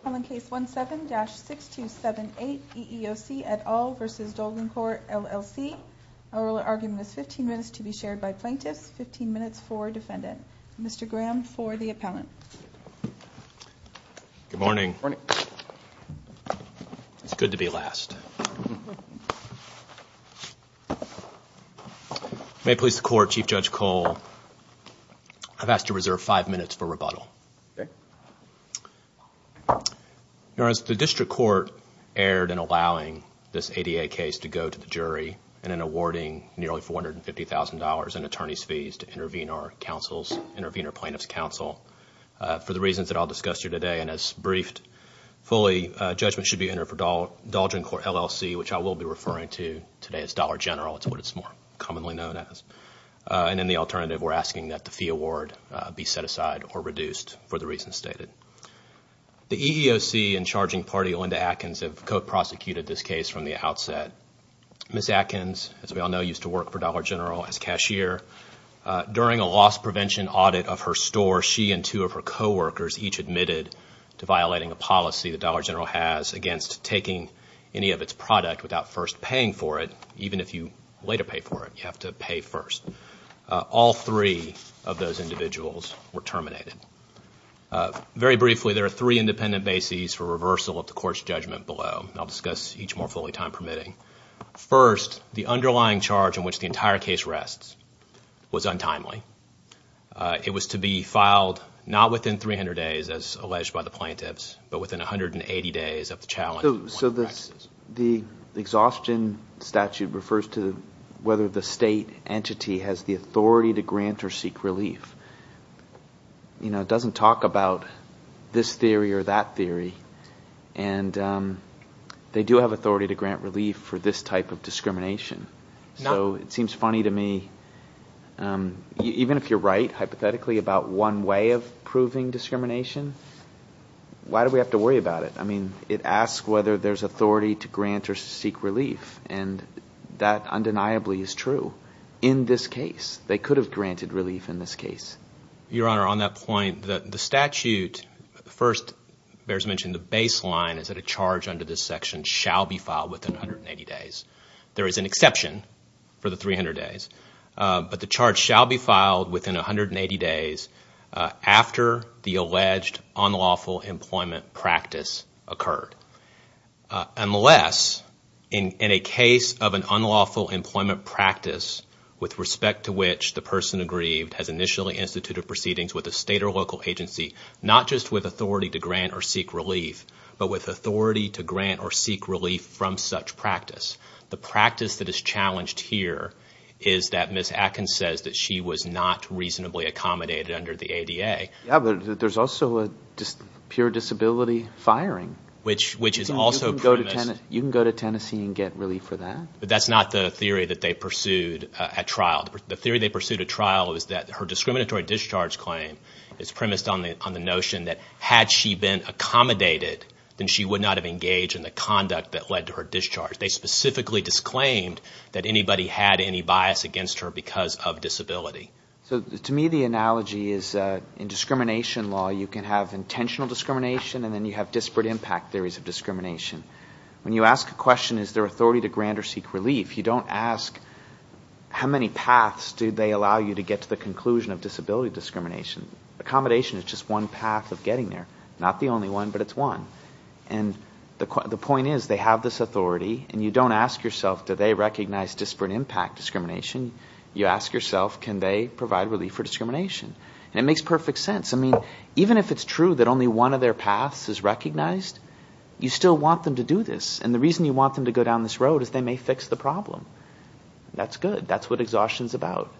Appellant Case 17-6278 EEOC et al. v. Dolgencorp LLC Our oral argument is 15 minutes to be shared by plaintiffs, 15 minutes for defendant. Mr. Graham for the appellant. Good morning. It's good to be last. May it please the court, Chief Judge Cole, I've asked to reserve five minutes for rebuttal. As the district court erred in allowing this ADA case to go to the jury, and in awarding nearly $450,000 in attorney's fees to intervene our plaintiff's counsel for the reasons that I'll discuss here today, and as briefed fully, judgment should be entered for Dolgencorp LLC, which I will be referring to today as Dollar General. It's what it's more commonly known as. And in the alternative, we're asking that the fee award be set aside or reduced for the reasons stated. The EEOC and charging party, Linda Atkins, have co-prosecuted this case from the outset. Ms. Atkins, as we all know, used to work for Dollar General as cashier. During a loss prevention audit of her store, she and two of her coworkers each admitted to violating a policy that Dollar General has against taking any of its product without first paying for it. Even if you later pay for it, you have to pay first. All three of those individuals were terminated. Very briefly, there are three independent bases for reversal of the court's judgment below. I'll discuss each more fully, time permitting. First, the underlying charge in which the entire case rests was untimely. It was to be filed not within 300 days, as alleged by the plaintiffs, but within 180 days of the challenge. So the exhaustion statute refers to whether the state entity has the authority to grant or seek relief. It doesn't talk about this theory or that theory. And they do have authority to grant relief for this type of discrimination. So it seems funny to me. Even if you're right, hypothetically, about one way of proving discrimination, why do we have to worry about it? I mean, it asks whether there's authority to grant or seek relief. And that undeniably is true in this case. They could have granted relief in this case. Your Honor, on that point, the statute first bears mentioning the baseline is that a charge under this section shall be filed within 180 days. There is an exception for the 300 days. But the charge shall be filed within 180 days after the alleged unlawful employment practice occurred. Unless in a case of an unlawful employment practice with respect to which the person aggrieved has initially instituted proceedings with a state or local agency, not just with authority to grant or seek relief, but with authority to grant or seek relief from such practice. The practice that is challenged here is that Ms. Atkins says that she was not reasonably accommodated under the ADA. Yeah, but there's also a pure disability firing. Which is also premised. You can go to Tennessee and get relief for that. But that's not the theory that they pursued at trial. The theory they pursued at trial is that her discriminatory discharge claim is premised on the notion that had she been accommodated, then she would not have engaged in the conduct that led to her discharge. They specifically disclaimed that anybody had any bias against her because of disability. So to me, the analogy is in discrimination law, you can have intentional discrimination, and then you have disparate impact theories of discrimination. When you ask a question, is there authority to grant or seek relief, you don't ask how many paths do they allow you to get to the conclusion of disability discrimination. Accommodation is just one path of getting there. Not the only one, but it's one. And the point is, they have this authority, and you don't ask yourself, do they recognize disparate impact discrimination? You ask yourself, can they provide relief for discrimination? And it makes perfect sense. I mean, even if it's true that only one of their paths is recognized, you still want them to do this. And the reason you want them to go down this road is they may fix the problem. That's good. That's what exhaustion is about.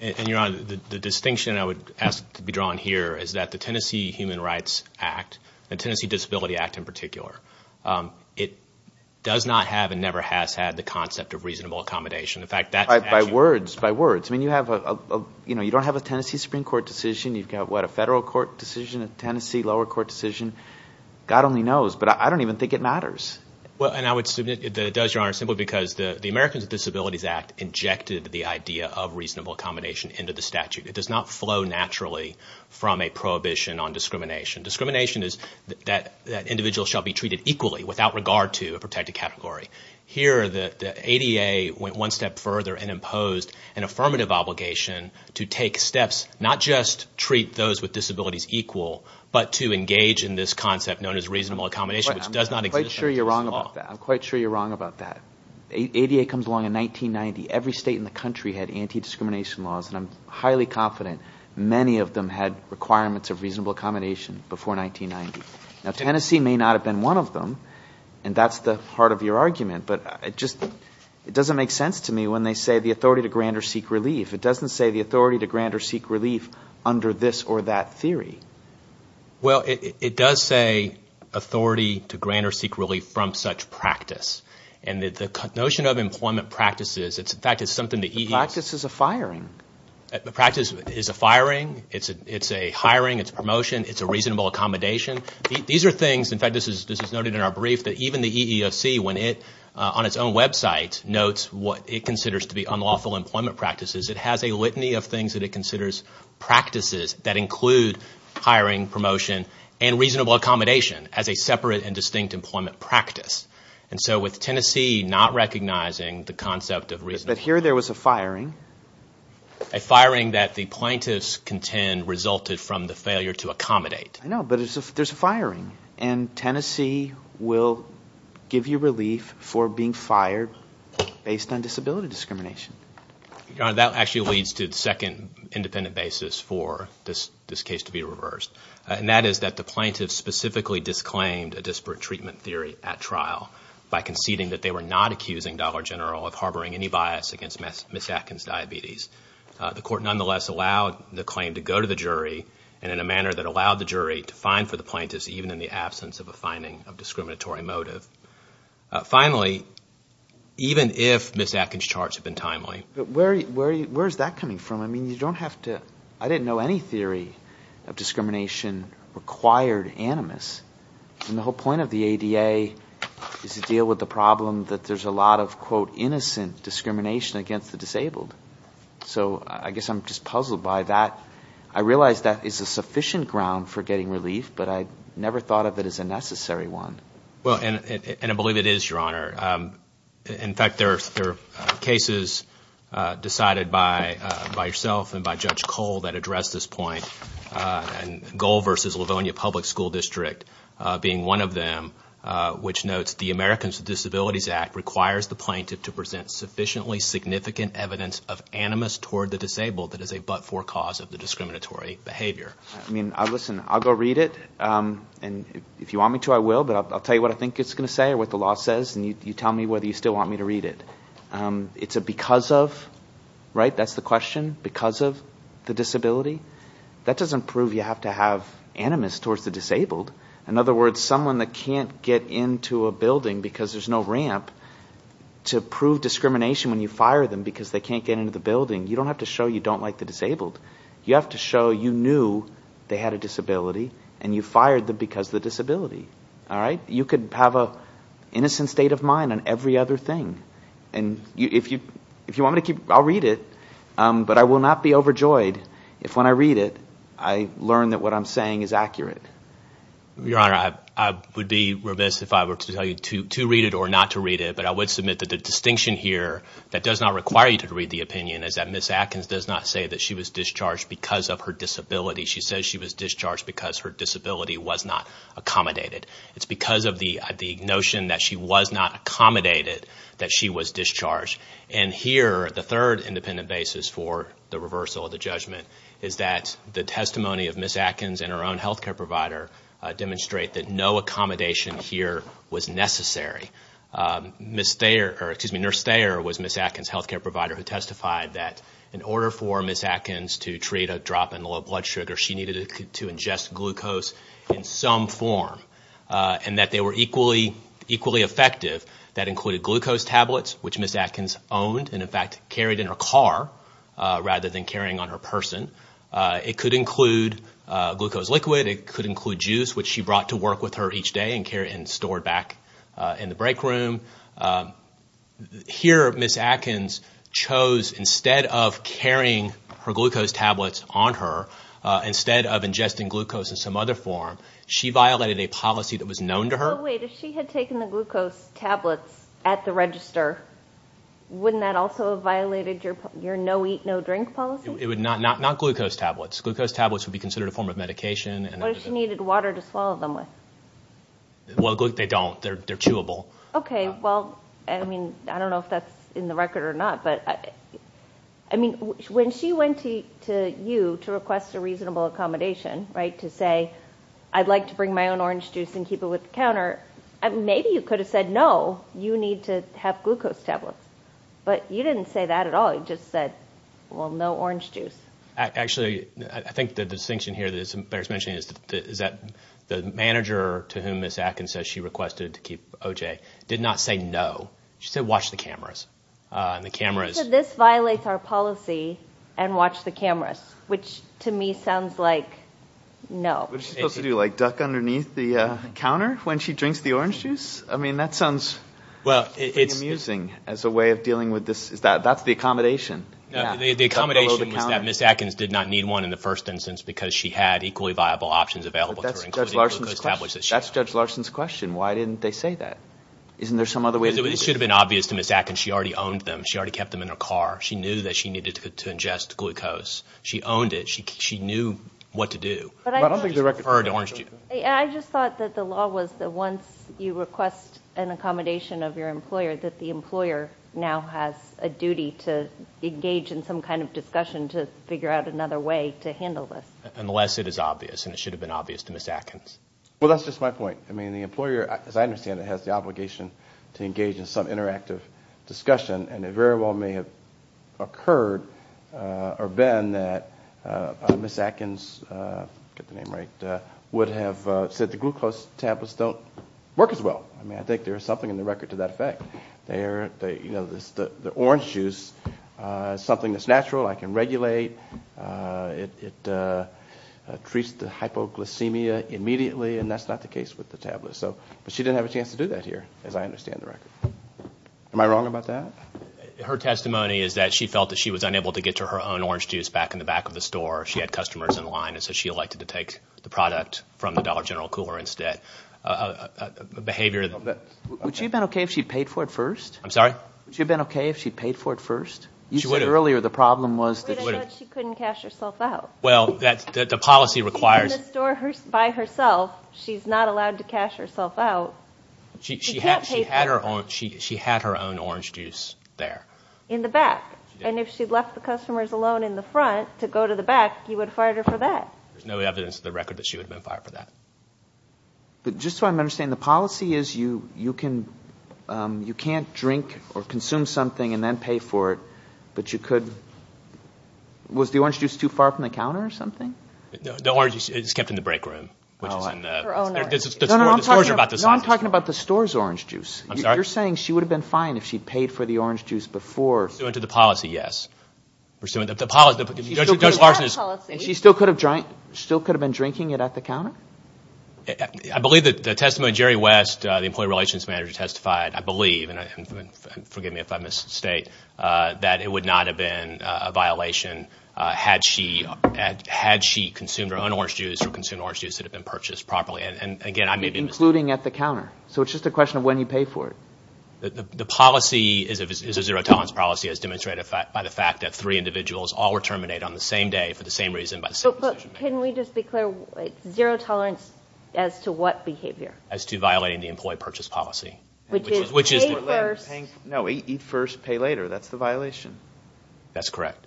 And, Your Honor, the distinction I would ask to be drawn here is that the Tennessee Human Rights Act, the Tennessee Disability Act in particular, it does not have and never has had the concept of reasonable accommodation. By words, by words. I mean, you don't have a Tennessee Supreme Court decision. You've got, what, a federal court decision, a Tennessee lower court decision. God only knows, but I don't even think it matters. Well, and I would submit that it does, Your Honor, simply because the Americans with Disabilities Act injected the idea of reasonable accommodation into the statute. It does not flow naturally from a prohibition on discrimination. Discrimination is that individuals shall be treated equally without regard to a protected category. Here, the ADA went one step further and imposed an affirmative obligation to take steps, not just treat those with disabilities equal, but to engage in this concept known as reasonable accommodation, which does not exist under Tennessee law. I'm quite sure you're wrong about that. ADA comes along in 1990. Every state in the country had anti-discrimination laws, and I'm highly confident many of them had requirements of reasonable accommodation before 1990. Now, Tennessee may not have been one of them, and that's the heart of your argument, but it just doesn't make sense to me when they say the authority to grant or seek relief. It doesn't say the authority to grant or seek relief under this or that theory. Well, it does say authority to grant or seek relief from such practice, and the notion of employment practices, in fact, is something that EEOC ---- The practice is a firing. The practice is a firing. It's a hiring. It's a promotion. It's a reasonable accommodation. These are things, in fact, this is noted in our brief, that even the EEOC, when it on its own website notes what it considers to be unlawful employment practices, it has a litany of things that it considers practices that include hiring, promotion, and reasonable accommodation as a separate and distinct employment practice. And so with Tennessee not recognizing the concept of reasonable ---- But here there was a firing. A firing that the plaintiffs contend resulted from the failure to accommodate. I know, but there's a firing, and Tennessee will give you relief for being fired based on disability discrimination. Your Honor, that actually leads to the second independent basis for this case to be reversed, and that is that the plaintiffs specifically disclaimed a disparate treatment theory at trial by conceding that they were not accusing Dollar General of harboring any bias against Ms. Atkins' diabetes. The court nonetheless allowed the claim to go to the jury, and in a manner that allowed the jury to fine for the plaintiffs, even in the absence of a finding of discriminatory motive. Finally, even if Ms. Atkins' charts have been timely ---- But where is that coming from? I mean, you don't have to ---- I didn't know any theory of discrimination required animus. And the whole point of the ADA is to deal with the problem that there's a lot of, quote, innocent discrimination against the disabled. So I guess I'm just puzzled by that. I realize that is a sufficient ground for getting relief, but I never thought of it as a necessary one. Well, and I believe it is, Your Honor. In fact, there are cases decided by yourself and by Judge Cole that address this point, and Gohl v. Livonia Public School District being one of them, which notes the Americans with Disabilities Act requires the plaintiff to present sufficiently significant evidence of animus toward the disabled that is a but-for cause of the discriminatory behavior. I mean, listen, I'll go read it, and if you want me to, I will, but I'll tell you what I think it's going to say or what the law says, and you tell me whether you still want me to read it. It's a because of, right, that's the question, because of the disability. That doesn't prove you have to have animus towards the disabled. In other words, someone that can't get into a building because there's no ramp, to prove discrimination when you fire them because they can't get into the building, you don't have to show you don't like the disabled. You have to show you knew they had a disability, and you fired them because of the disability. You could have an innocent state of mind on every other thing, and if you want me to keep – I'll read it, but I will not be overjoyed if when I read it, I learn that what I'm saying is accurate. Your Honor, I would be remiss if I were to tell you to read it or not to read it, but I would submit that the distinction here that does not require you to read the opinion is that Ms. Atkins does not say that she was discharged because of her disability. She says she was discharged because her disability was not accommodated. It's because of the notion that she was not accommodated that she was discharged. And here, the third independent basis for the reversal of the judgment is that the testimony of Ms. Atkins and her own health care provider demonstrate that no accommodation here was necessary. Nurse Thayer was Ms. Atkins' health care provider who testified that in order for Ms. Atkins to treat a drop in the level of blood sugar, she needed to ingest glucose in some form, and that they were equally effective. That included glucose tablets, which Ms. Atkins owned and, in fact, carried in her car rather than carrying on her person. It could include glucose liquid. It could include juice, which she brought to work with her each day and stored back in the break room. Here, Ms. Atkins chose, instead of carrying her glucose tablets on her, instead of ingesting glucose in some other form, she violated a policy that was known to her. Oh, wait. If she had taken the glucose tablets at the register, wouldn't that also have violated your no eat, no drink policy? It would not. Not glucose tablets. Glucose tablets would be considered a form of medication. What if she needed water to swallow them with? Well, they don't. They're chewable. Okay. Well, I mean, I don't know if that's in the record or not, but, I mean, when she went to you to request a reasonable accommodation, right, to say, I'd like to bring my own orange juice and keep it with the counter, maybe you could have said, no, you need to have glucose tablets. But you didn't say that at all. You just said, well, no orange juice. Actually, I think the distinction here that Blair's mentioning is that the manager to whom Ms. Atkins said she requested to keep OJ did not say no. She said watch the cameras. So this violates our policy and watch the cameras, which to me sounds like no. What is she supposed to do, like duck underneath the counter when she drinks the orange juice? I mean, that sounds pretty amusing as a way of dealing with this. That's the accommodation. The accommodation was that Ms. Atkins did not need one in the first instance because she had equally viable options available to her, including glucose tablets that she had. That's Judge Larson's question. Why didn't they say that? Isn't there some other way? It should have been obvious to Ms. Atkins. She already owned them. She already kept them in her car. She knew that she needed to ingest glucose. She owned it. She knew what to do. I just thought that the law was that once you request an accommodation of your employer, that the employer now has a duty to engage in some kind of discussion to figure out another way to handle this. Unless it is obvious, and it should have been obvious to Ms. Atkins. Well, that's just my point. I mean, the employer, as I understand it, has the obligation to engage in some interactive discussion, and it very well may have occurred or been that Ms. Atkins, get the name right, would have said the glucose tablets don't work as well. I mean, I think there is something in the record to that effect. The orange juice is something that's natural. I can regulate. It treats the hypoglycemia immediately, and that's not the case with the tablets. But she didn't have a chance to do that here, as I understand the record. Am I wrong about that? Her testimony is that she felt that she was unable to get to her own orange juice back in the back of the store. She had customers in line, and so she elected to take the product from the Dollar General Cooler instead. Would she have been okay if she had paid for it first? I'm sorry? Would she have been okay if she had paid for it first? She would have. You said earlier the problem was that she would have. But I thought she couldn't cash herself out. Well, the policy requires – She's in the store by herself. She's not allowed to cash herself out. She can't pay for it. She had her own orange juice there. In the back. She did. And if she'd left the customers alone in the front to go to the back, he would have fired her for that. There's no evidence in the record that she would have been fired for that. But just so I'm understanding, the policy is you can't drink or consume something and then pay for it, but you could – was the orange juice too far from the counter or something? The orange juice is kept in the break room, which is in the – Her own orange juice. No, no, I'm talking about the store's orange juice. I'm sorry? You're saying she would have been fine if she'd paid for the orange juice before – Pursuant to the policy, yes. The policy – She still could have had policy. I believe that the testimony Jerry West, the employee relations manager, testified, I believe, and forgive me if I misstate, that it would not have been a violation had she consumed her own orange juice or consumed orange juice that had been purchased properly. And, again, I may be mistaken. Including at the counter. So it's just a question of when you pay for it. The policy is a zero-tolerance policy as demonstrated by the fact that three individuals all were terminated on the same day for the same reason by the same decision. But can we just be clear? Zero-tolerance as to what behavior? As to violating the employee purchase policy. Which is – Pay first. No, eat first, pay later. That's the violation. That's correct.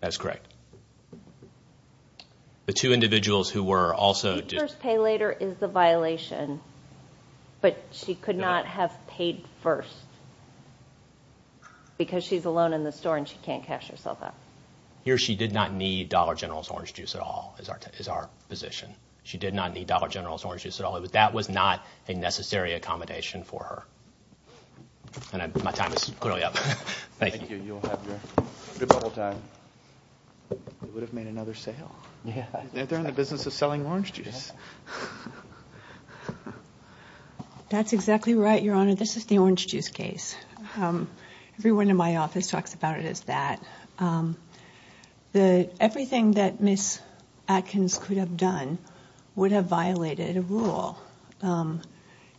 That's correct. The two individuals who were also – Eat first, pay later is the violation, but she could not have paid first because she's alone in the store and she can't cash herself out. Here, she did not need Dollar General's orange juice at all is our position. She did not need Dollar General's orange juice at all. That was not a necessary accommodation for her. And my time is clearly up. Thank you. Thank you. You'll have your bubble time. They would have made another sale. Yeah. They're in the business of selling orange juice. That's exactly right, Your Honor. This is the orange juice case. Everyone in my office talks about it as that. Everything that Ms. Atkins could have done would have violated a rule.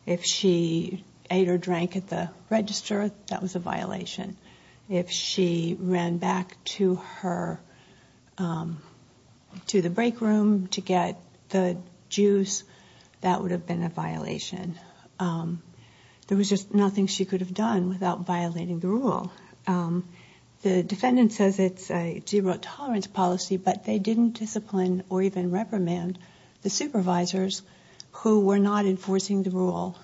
If she ate or drank at the register, that was a violation. If she ran back to her – to the break room to get the juice, that would have been a violation. There was just nothing she could have done without violating the rule. The defendant says it's a zero-tolerance policy, but they didn't discipline or even reprimand the supervisors who were not enforcing the rule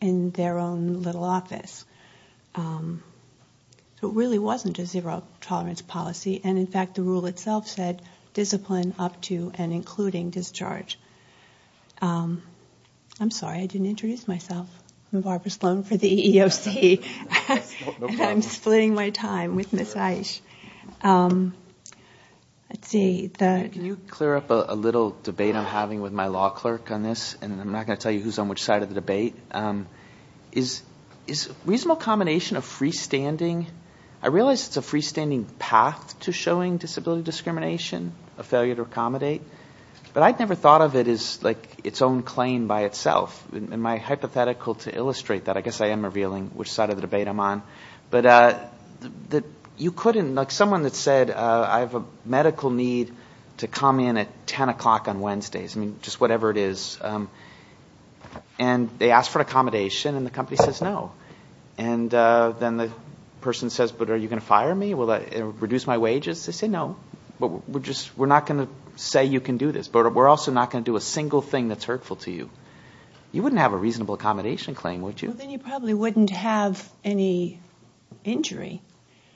in their own little office. It really wasn't a zero-tolerance policy. And, in fact, the rule itself said discipline up to and including discharge. I'm sorry. I didn't introduce myself. I'm Barbara Sloan for the EEOC. No problem. I'm splitting my time with Ms. Aish. Let's see. Can you clear up a little debate I'm having with my law clerk on this? And I'm not going to tell you who's on which side of the debate. Is reasonable combination of freestanding – I realize it's a freestanding path to showing disability discrimination, a failure to accommodate. But I'd never thought of it as, like, its own claim by itself. Am I hypothetical to illustrate that? I guess I am revealing which side of the debate I'm on. But you couldn't – like, someone that said, I have a medical need to come in at 10 o'clock on Wednesdays. I mean, just whatever it is. And they ask for an accommodation, and the company says no. And then the person says, but are you going to fire me? Will that reduce my wages? They say no. We're not going to say you can do this. But we're also not going to do a single thing that's hurtful to you. You wouldn't have a reasonable accommodation claim, would you? Well, then you probably wouldn't have any injury.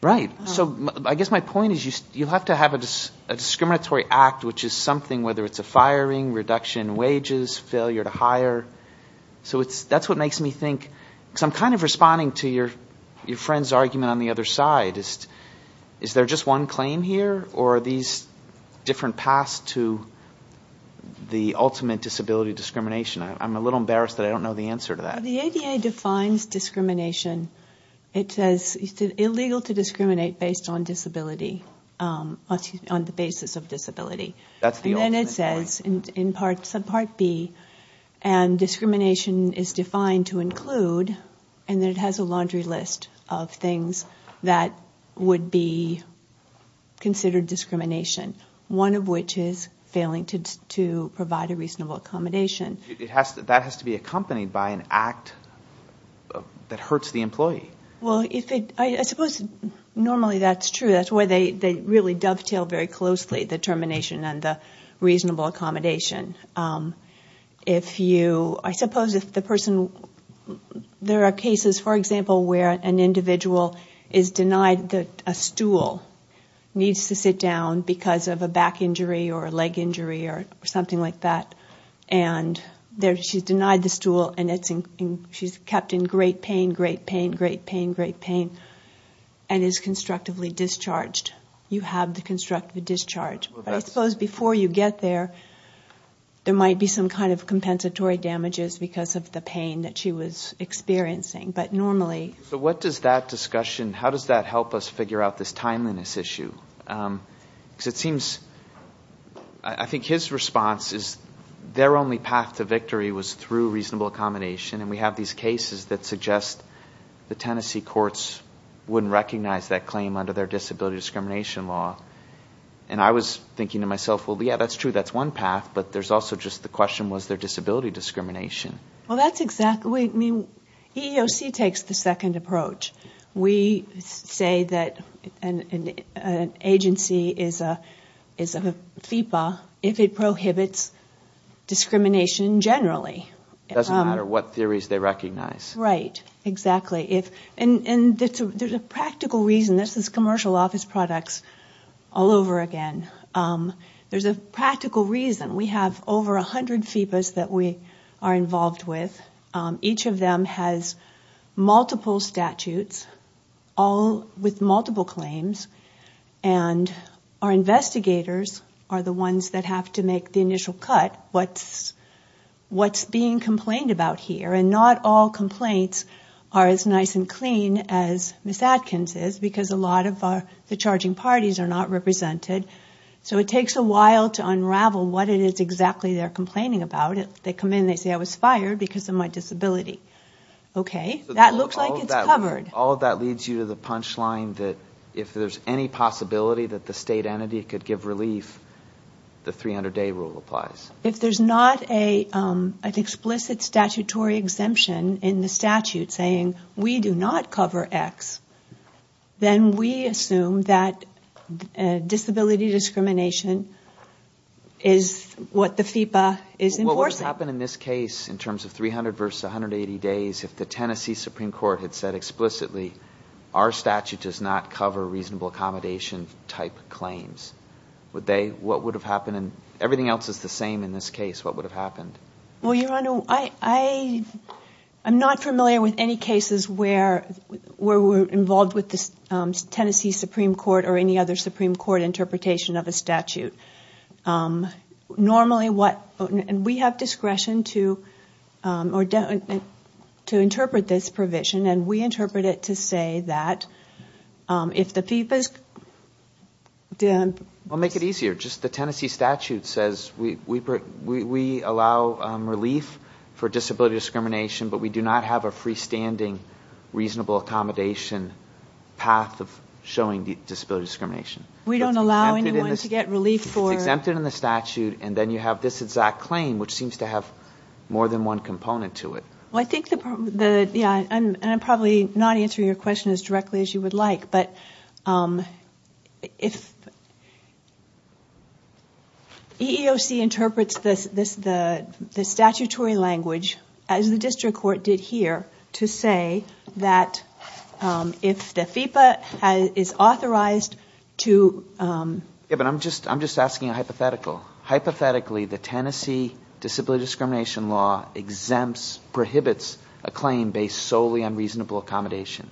Right. So I guess my point is you have to have a discriminatory act, which is something, whether it's a firing, reduction in wages, failure to hire. So that's what makes me think – because I'm kind of responding to your friend's argument on the other side. Is there just one claim here, or are these different paths to the ultimate disability discrimination? I'm a little embarrassed that I don't know the answer to that. The ADA defines discrimination. It says it's illegal to discriminate based on disability – excuse me, on the basis of disability. That's the ultimate claim. And then it says in Part B, and discrimination is defined to include – and then it has a laundry list of things that would be considered discrimination, one of which is failing to provide a reasonable accommodation. That has to be accompanied by an act that hurts the employee. Well, I suppose normally that's true. That's why they really dovetail very closely, the termination and the reasonable accommodation. I suppose if the person – there are cases, for example, where an individual is denied – a stool needs to sit down because of a back injury or a leg injury or something like that. And she's denied the stool, and she's kept in great pain, great pain, great pain, great pain, and is constructively discharged. You have the constructive discharge. But I suppose before you get there, there might be some kind of compensatory damages because of the pain that she was experiencing. But normally – So what does that discussion – how does that help us figure out this timeliness issue? Because it seems – I think his response is their only path to victory was through reasonable accommodation. And we have these cases that suggest the Tennessee courts wouldn't recognize that claim under their disability discrimination law. And I was thinking to myself, well, yeah, that's true, that's one path. But there's also just the question, was there disability discrimination? Well, that's exactly – I mean, EEOC takes the second approach. We say that an agency is a FEPA if it prohibits discrimination generally. It doesn't matter what theories they recognize. Right, exactly. And there's a practical reason – this is commercial office products all over again. There's a practical reason. We have over 100 FEPAs that we are involved with. Each of them has multiple statutes, all with multiple claims. And our investigators are the ones that have to make the initial cut, what's being complained about here. And not all complaints are as nice and clean as Ms. Adkins' because a lot of the charging parties are not represented. So it takes a while to unravel what it is exactly they're complaining about. They come in, they say, I was fired because of my disability. Okay, that looks like it's covered. All of that leads you to the punchline that if there's any possibility that the state entity could give relief, the 300-day rule applies. If there's not an explicit statutory exemption in the statute saying we do not cover X, then we assume that disability discrimination is what the FEPA is enforcing. Well, what would happen in this case in terms of 300 versus 180 days if the Tennessee Supreme Court had said explicitly our statute does not cover reasonable accommodation type claims? What would have happened? Everything else is the same in this case. What would have happened? Well, Your Honor, I'm not familiar with any cases where we're involved with the Tennessee Supreme Court or any other Supreme Court interpretation of a statute. Normally, we have discretion to interpret this provision, and we interpret it to say that if the FEPA's... Well, make it easier. Just the Tennessee statute says we allow relief for disability discrimination, but we do not have a freestanding reasonable accommodation path of showing disability discrimination. We don't allow anyone to get relief for... It's exempted in the statute, and then you have this exact claim, which seems to have more than one component to it. Well, I think the... Yeah, and I'm probably not answering your question as directly as you would like, but if EEOC interprets the statutory language, as the district court did here, to say that if the FEPA is authorized to... Yeah, but I'm just asking a hypothetical. Hypothetically, the Tennessee disability discrimination law exempts, prohibits, a claim based solely on reasonable accommodation.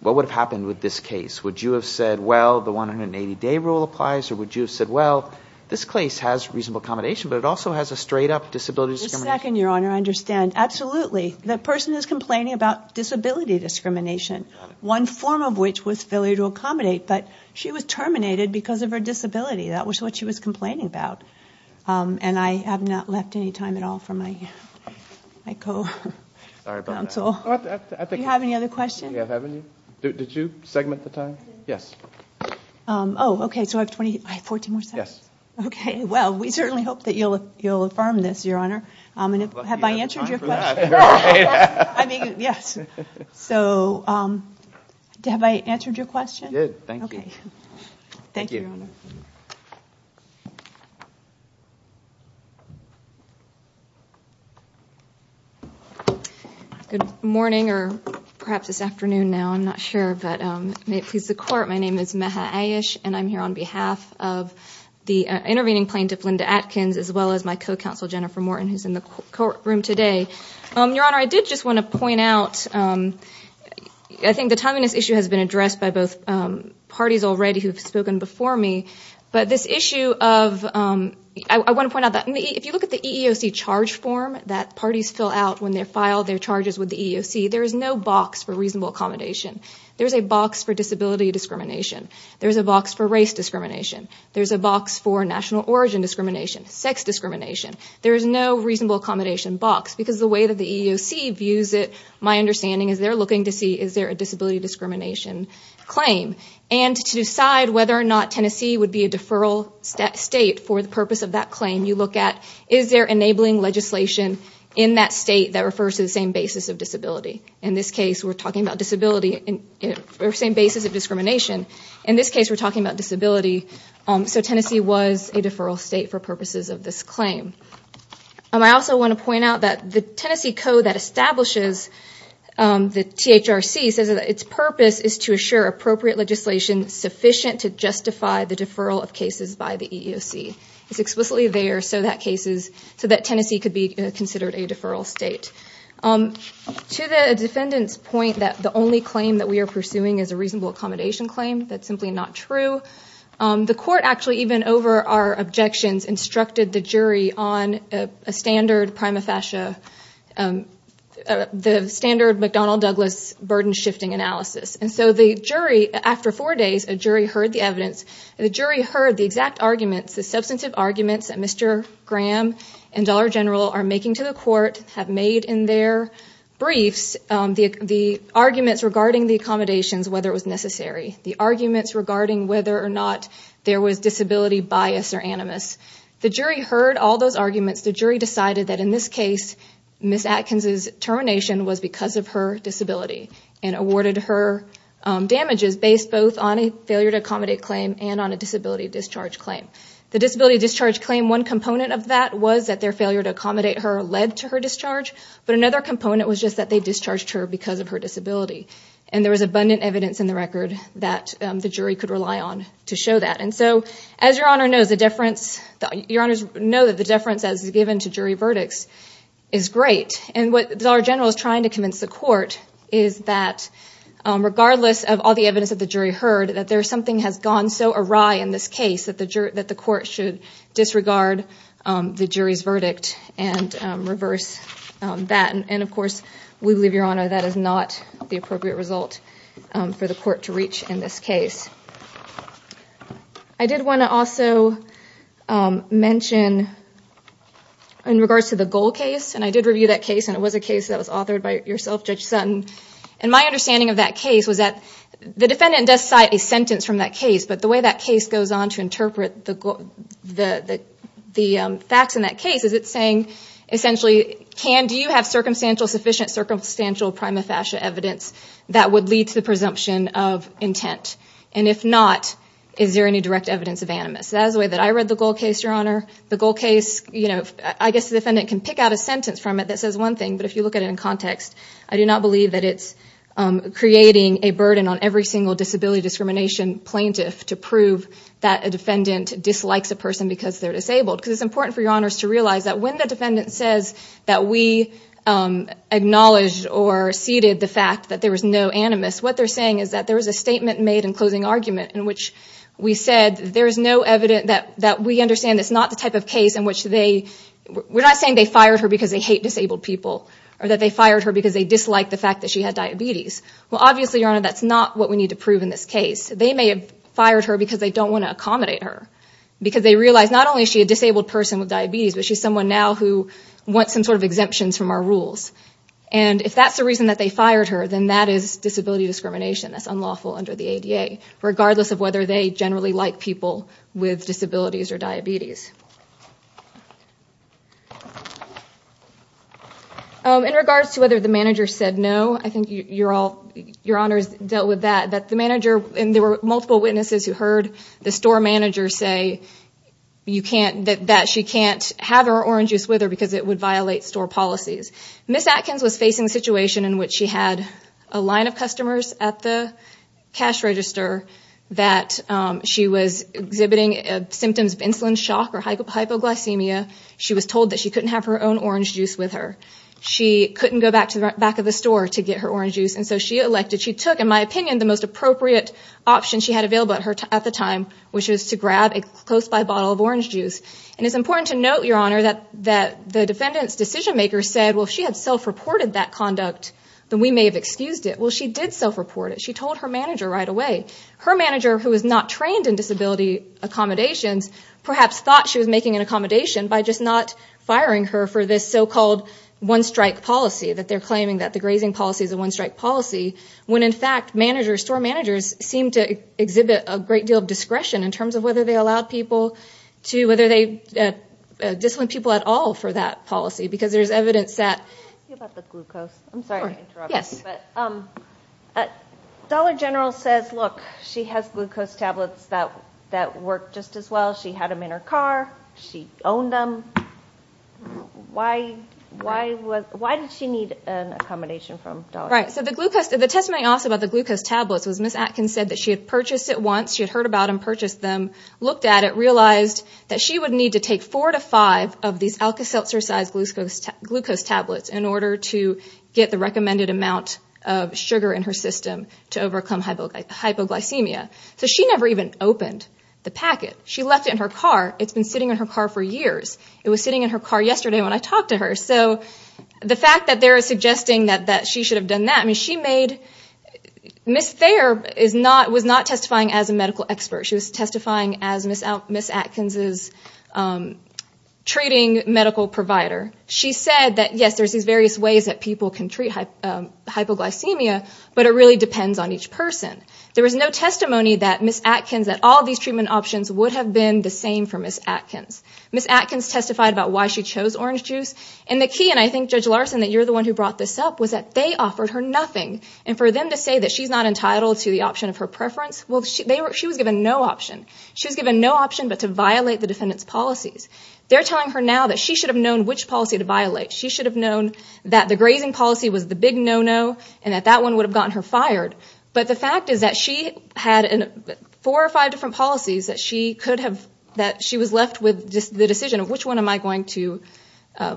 What would have happened with this case? Would you have said, well, the 180-day rule applies, or would you have said, well, this case has reasonable accommodation, but it also has a straight-up disability discrimination... Just a second, Your Honor. I understand. Absolutely, the person is complaining about disability discrimination, one form of which was failure to accommodate, but she was terminated because of her disability. That was what she was complaining about, and I have not left any time at all for my co-counsel. Sorry about that. Do you have any other questions? Do you have any? Did you segment the time? Yes. Oh, okay, so I have 14 more seconds? Yes. Okay, well, we certainly hope that you'll affirm this, Your Honor. Have I answered your question? You have time for that. I mean, yes. So, have I answered your question? You did. Thank you. Okay. Thank you. Thank you, Your Honor. Good morning, or perhaps it's afternoon now. I'm not sure, but may it please the Court, my name is Meha Ayish, and I'm here on behalf of the intervening plaintiff, Linda Atkins, as well as my co-counsel, Jennifer Morton, who's in the courtroom today. Your Honor, I did just want to point out, I think the timeliness issue has been addressed by both parties already, who have spoken before me, but this issue of – I want to point out that if you look at the EEOC charge form that parties fill out when they file their charges with the EEOC, there is no box for reasonable accommodation. There is a box for disability discrimination. There is a box for race discrimination. There is a box for national origin discrimination, sex discrimination. There is no reasonable accommodation box because the way that the EEOC views it, my understanding is they're looking to see is there a disability discrimination claim. And to decide whether or not Tennessee would be a deferral state for the purpose of that claim, you look at is there enabling legislation in that state that refers to the same basis of disability. In this case, we're talking about the same basis of discrimination. In this case, we're talking about disability. So Tennessee was a deferral state for purposes of this claim. I also want to point out that the Tennessee Code that establishes the THRC says that its purpose is to assure appropriate legislation sufficient to justify the deferral of cases by the EEOC. It's explicitly there so that Tennessee could be considered a deferral state. To the defendant's point that the only claim that we are pursuing is a reasonable accommodation claim, that's simply not true, the court actually, even over our objections, instructed the jury on a standard McDonnell-Douglas burden-shifting analysis. After four days, a jury heard the evidence. The jury heard the exact arguments, the substantive arguments that Mr. Graham and Dollar General are making to the court, have made in their briefs the arguments regarding the accommodations, whether it was necessary, the arguments regarding whether or not there was disability bias or animus. The jury heard all those arguments. The jury decided that in this case, Ms. Atkins' termination was because of her disability and awarded her damages based both on a failure to accommodate claim and on a disability discharge claim. The disability discharge claim, one component of that was that their failure to accommodate her led to her discharge, but another component was just that they discharged her because of her disability. And there was abundant evidence in the record that the jury could rely on to show that. And so, as Your Honor knows, the deference, Your Honors know that the deference as given to jury verdicts is great. And what Dollar General is trying to convince the court is that regardless of all the evidence that the jury heard, that something has gone so awry in this case that the court should disregard the jury's verdict and reverse that. And, of course, we believe, Your Honor, that is not the appropriate result for the court to reach in this case. I did want to also mention in regards to the Goal case, and I did review that case, and it was a case that was authored by yourself, Judge Sutton. And my understanding of that case was that the defendant does cite a sentence from that case, but the way that case goes on to interpret the facts in that case is it's saying essentially, do you have sufficient circumstantial prima facie evidence that would lead to the presumption of intent? And if not, is there any direct evidence of animus? That is the way that I read the Goal case, Your Honor. The Goal case, I guess the defendant can pick out a sentence from it that says one thing, but if you look at it in context, I do not believe that it's creating a burden on every single disability discrimination plaintiff to prove that a defendant dislikes a person because they're disabled. Because it's important for Your Honors to realize that when the defendant says that we acknowledge or ceded the fact that there was no animus, what they're saying is that there was a statement made in closing argument in which we said there is no evidence that we understand it's not the type of case in which they, we're not saying they fired her because they hate disabled people, or that they fired her because they disliked the fact that she had diabetes. Well, obviously, Your Honor, that's not what we need to prove in this case. They may have fired her because they don't want to accommodate her. Because they realize not only is she a disabled person with diabetes, but she's someone now who wants some sort of exemptions from our rules. And if that's the reason that they fired her, then that is disability discrimination. That's unlawful under the ADA, regardless of whether they generally like people with disabilities or diabetes. In regards to whether the manager said no, I think Your Honors dealt with that. There were multiple witnesses who heard the store manager say that she can't have her orange juice with her because it would violate store policies. Ms. Atkins was facing a situation in which she had a line of customers at the cash register that she was exhibiting symptoms of insulin shock or hypoglycemia. She was told that she couldn't have her own orange juice with her. She couldn't go back to the back of the store to get her orange juice. And so she took, in my opinion, the most appropriate option she had available at the time, which was to grab a close-by bottle of orange juice. And it's important to note, Your Honor, that the defendant's decision-maker said, well, if she had self-reported that conduct, then we may have excused it. Well, she did self-report it. She told her manager right away. Her manager, who is not trained in disability accommodations, perhaps thought she was making an accommodation by just not firing her for this so-called one-strike policy, that they're claiming that the grazing policy is a one-strike policy, when in fact managers, store managers, seem to exhibit a great deal of discretion in terms of whether they allowed people to, whether they disciplined people at all for that policy, because there's evidence that. About the glucose. I'm sorry to interrupt. Yes. Dollar General says, look, she has glucose tablets that work just as well. She had them in her car. She owned them. Why did she need an accommodation from Dollar General? Right. So the testimony also about the glucose tablets was Ms. Atkins said that she had purchased it once. She had heard about them, purchased them, looked at it, realized that she would need to take four to five of these Alka-Seltzer-sized glucose tablets in order to get the recommended amount of sugar in her system to overcome hypoglycemia. So she never even opened the packet. She left it in her car. It's been sitting in her car for years. It was sitting in her car yesterday when I talked to her. So the fact that they're suggesting that she should have done that, I mean, she made Ms. Thayer was not testifying as a medical expert. She was testifying as Ms. Atkins' treating medical provider. She said that, yes, there's these various ways that people can treat hypoglycemia, but it really depends on each person. There was no testimony that Ms. Atkins, that all these treatment options would have been the same for Ms. Atkins. Ms. Atkins testified about why she chose orange juice. And the key, and I think, Judge Larson, that you're the one who brought this up, was that they offered her nothing. And for them to say that she's not entitled to the option of her preference, well, she was given no option. She was given no option but to violate the defendant's policies. They're telling her now that she should have known which policy to violate. She should have known that the grazing policy was the big no-no and that that one would have gotten her fired. But the fact is that she had four or five different policies that she could have, that she was left with the decision of which one am I going to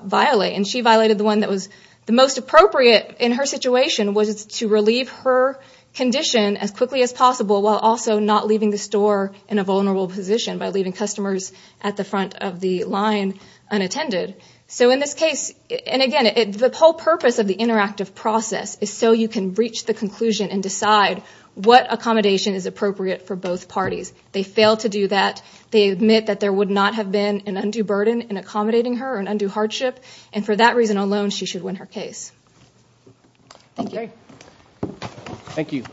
violate. And she violated the one that was the most appropriate in her situation, which was to relieve her condition as quickly as possible while also not leaving the store in a vulnerable position by leaving customers at the front of the line unattended. So in this case, and again, the whole purpose of the interactive process is so you can reach the conclusion and decide what accommodation is appropriate for both parties. They fail to do that. They admit that there would not have been an undue burden in accommodating her or an undue hardship. And for that reason alone, she should win her case. Thank you. Thank you.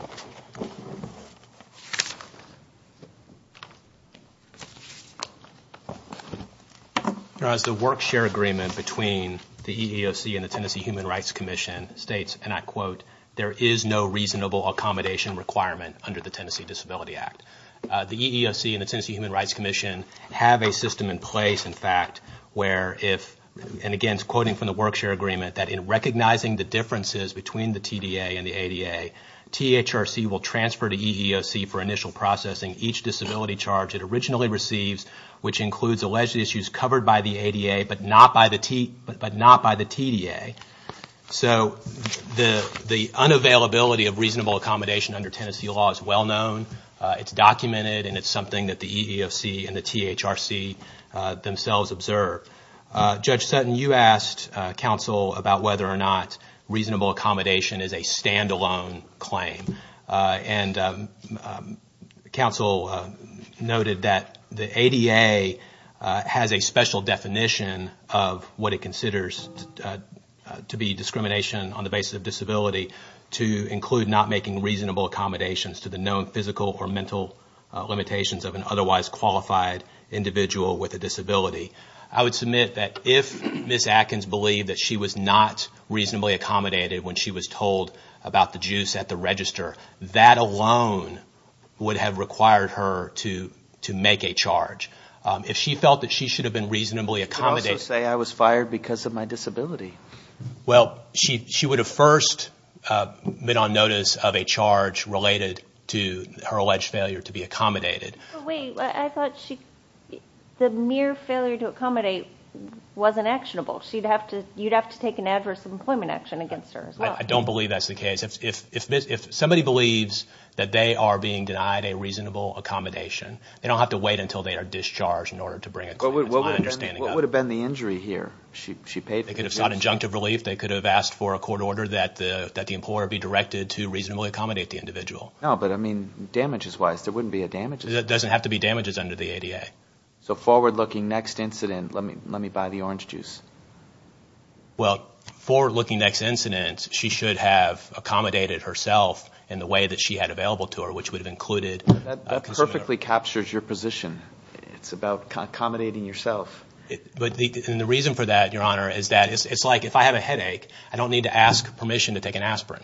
As the Work Share Agreement between the EEOC and the Tennessee Human Rights Commission states, and I quote, there is no reasonable accommodation requirement under the Tennessee Disability Act. The EEOC and the Tennessee Human Rights Commission have a system in place, in fact, where if, and again, quoting from the Work Share Agreement, that in recognizing the differences between the TDA and the ADA, THRC will transfer to EEOC for initial processing each disability charge it originally receives, which includes alleged issues covered by the ADA, but not by the TDA. So the unavailability of reasonable accommodation under Tennessee law is well known. It's documented, and it's something that the EEOC and the THRC themselves observe. Judge Sutton, you asked counsel about whether or not reasonable accommodation is a stand-alone claim, and counsel noted that the ADA has a special definition of what it considers to be discrimination on the basis of disability to include not making reasonable accommodations to the known physical or mental limitations of an otherwise qualified individual with a disability. I would submit that if Ms. Atkins believed that she was not reasonably accommodated when she was told about the issues at the register, that alone would have required her to make a charge. If she felt that she should have been reasonably accommodated... Well, she would have first been on notice of a charge related to her alleged failure to be accommodated. Wait, I thought the mere failure to accommodate wasn't actionable. You'd have to take an adverse employment action against her as well. I don't believe that's the case. If somebody believes that they are being denied a reasonable accommodation, they don't have to wait until they are discharged in order to bring it to me. What would have been the injury here? They could have sought injunctive relief. They could have asked for a court order that the employer be directed to reasonably accommodate the individual. No, but I mean, damages-wise, there wouldn't be a damages... It doesn't have to be damages under the ADA. So forward-looking next incident, let me buy the orange juice. Well, forward-looking next incident, she should have accommodated herself in the way that she had available to her, which would have included... That perfectly captures your position. It's about accommodating yourself. And the reason for that, Your Honor, is that it's like if I have a headache, I don't need to ask permission to take an aspirin.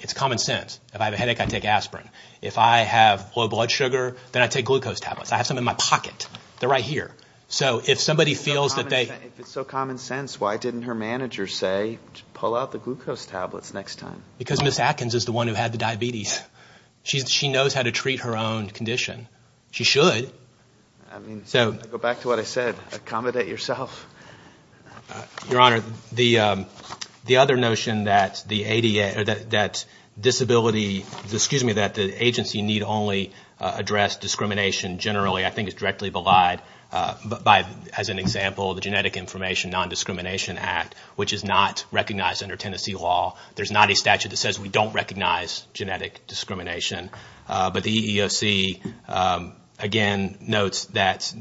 It's common sense. If I have a headache, I take aspirin. If I have low blood sugar, then I take glucose tablets. I have some in my pocket. They're right here. If it's so common sense, why didn't her manager say, pull out the glucose tablets next time? Because Ms. Atkins is the one who had the diabetes. She knows how to treat her own condition. She should. Go back to what I said. Accommodate yourself. Your Honor, the other notion that disability... Excuse me, that the agency need only address discrimination generally, I think is directly belied by, as an example, the Genetic Information Nondiscrimination Act, which is not recognized under Tennessee law. There's not a statute that says we don't recognize genetic discrimination. But the EEOC, again, notes that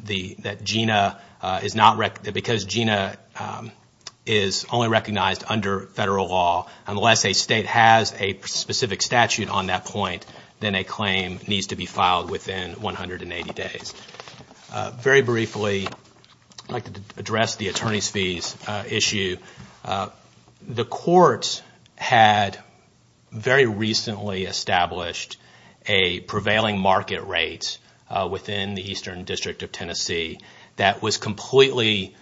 because GINA is only recognized under federal law, unless a state has a specific statute on that point, then a claim needs to be filed within 180 days. Very briefly, I'd like to address the attorney's fees issue. The court had very recently established a prevailing market rate within the Eastern District of Tennessee that was completely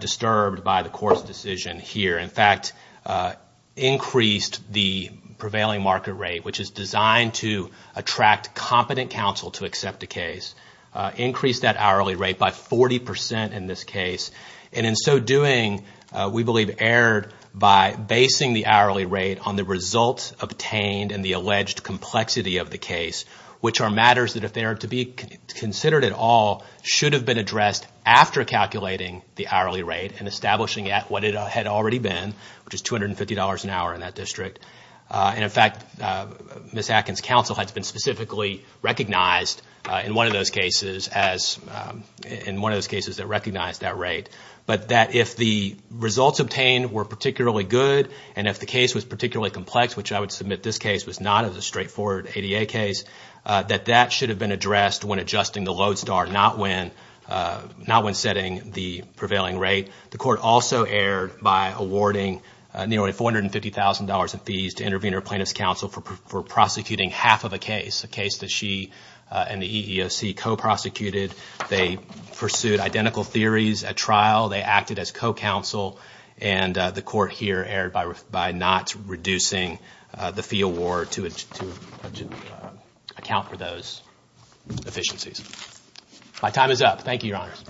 disturbed by the court's decision here. In fact, increased the prevailing market rate, which is designed to attract competent counsel to accept a case. Increased that hourly rate by 40 percent in this case. And in so doing, we believe, erred by basing the hourly rate on the results obtained and the alleged complexity of the case, which are matters that if they are to be considered at all, should have been addressed after calculating the hourly rate and establishing it at what it had already been, which is $250 an hour in that district. And in fact, Ms. Atkins' counsel had been specifically recognized in one of those cases that recognized that rate. But that if the results obtained were particularly good, and if the case was particularly complex, which I would submit this case was not as a straightforward ADA case, that that should have been addressed when adjusting the load star, not when setting the prevailing rate. The court also erred by awarding nearly $450,000 in fees to intervene her plaintiff's counsel for prosecuting half of a case, a case that she and the EEOC co-prosecuted. They pursued identical theories at trial, they acted as co-counsel, and the court here erred by not reducing the fee award to account for those efficiencies. My time is up. Thank you, Your Honors.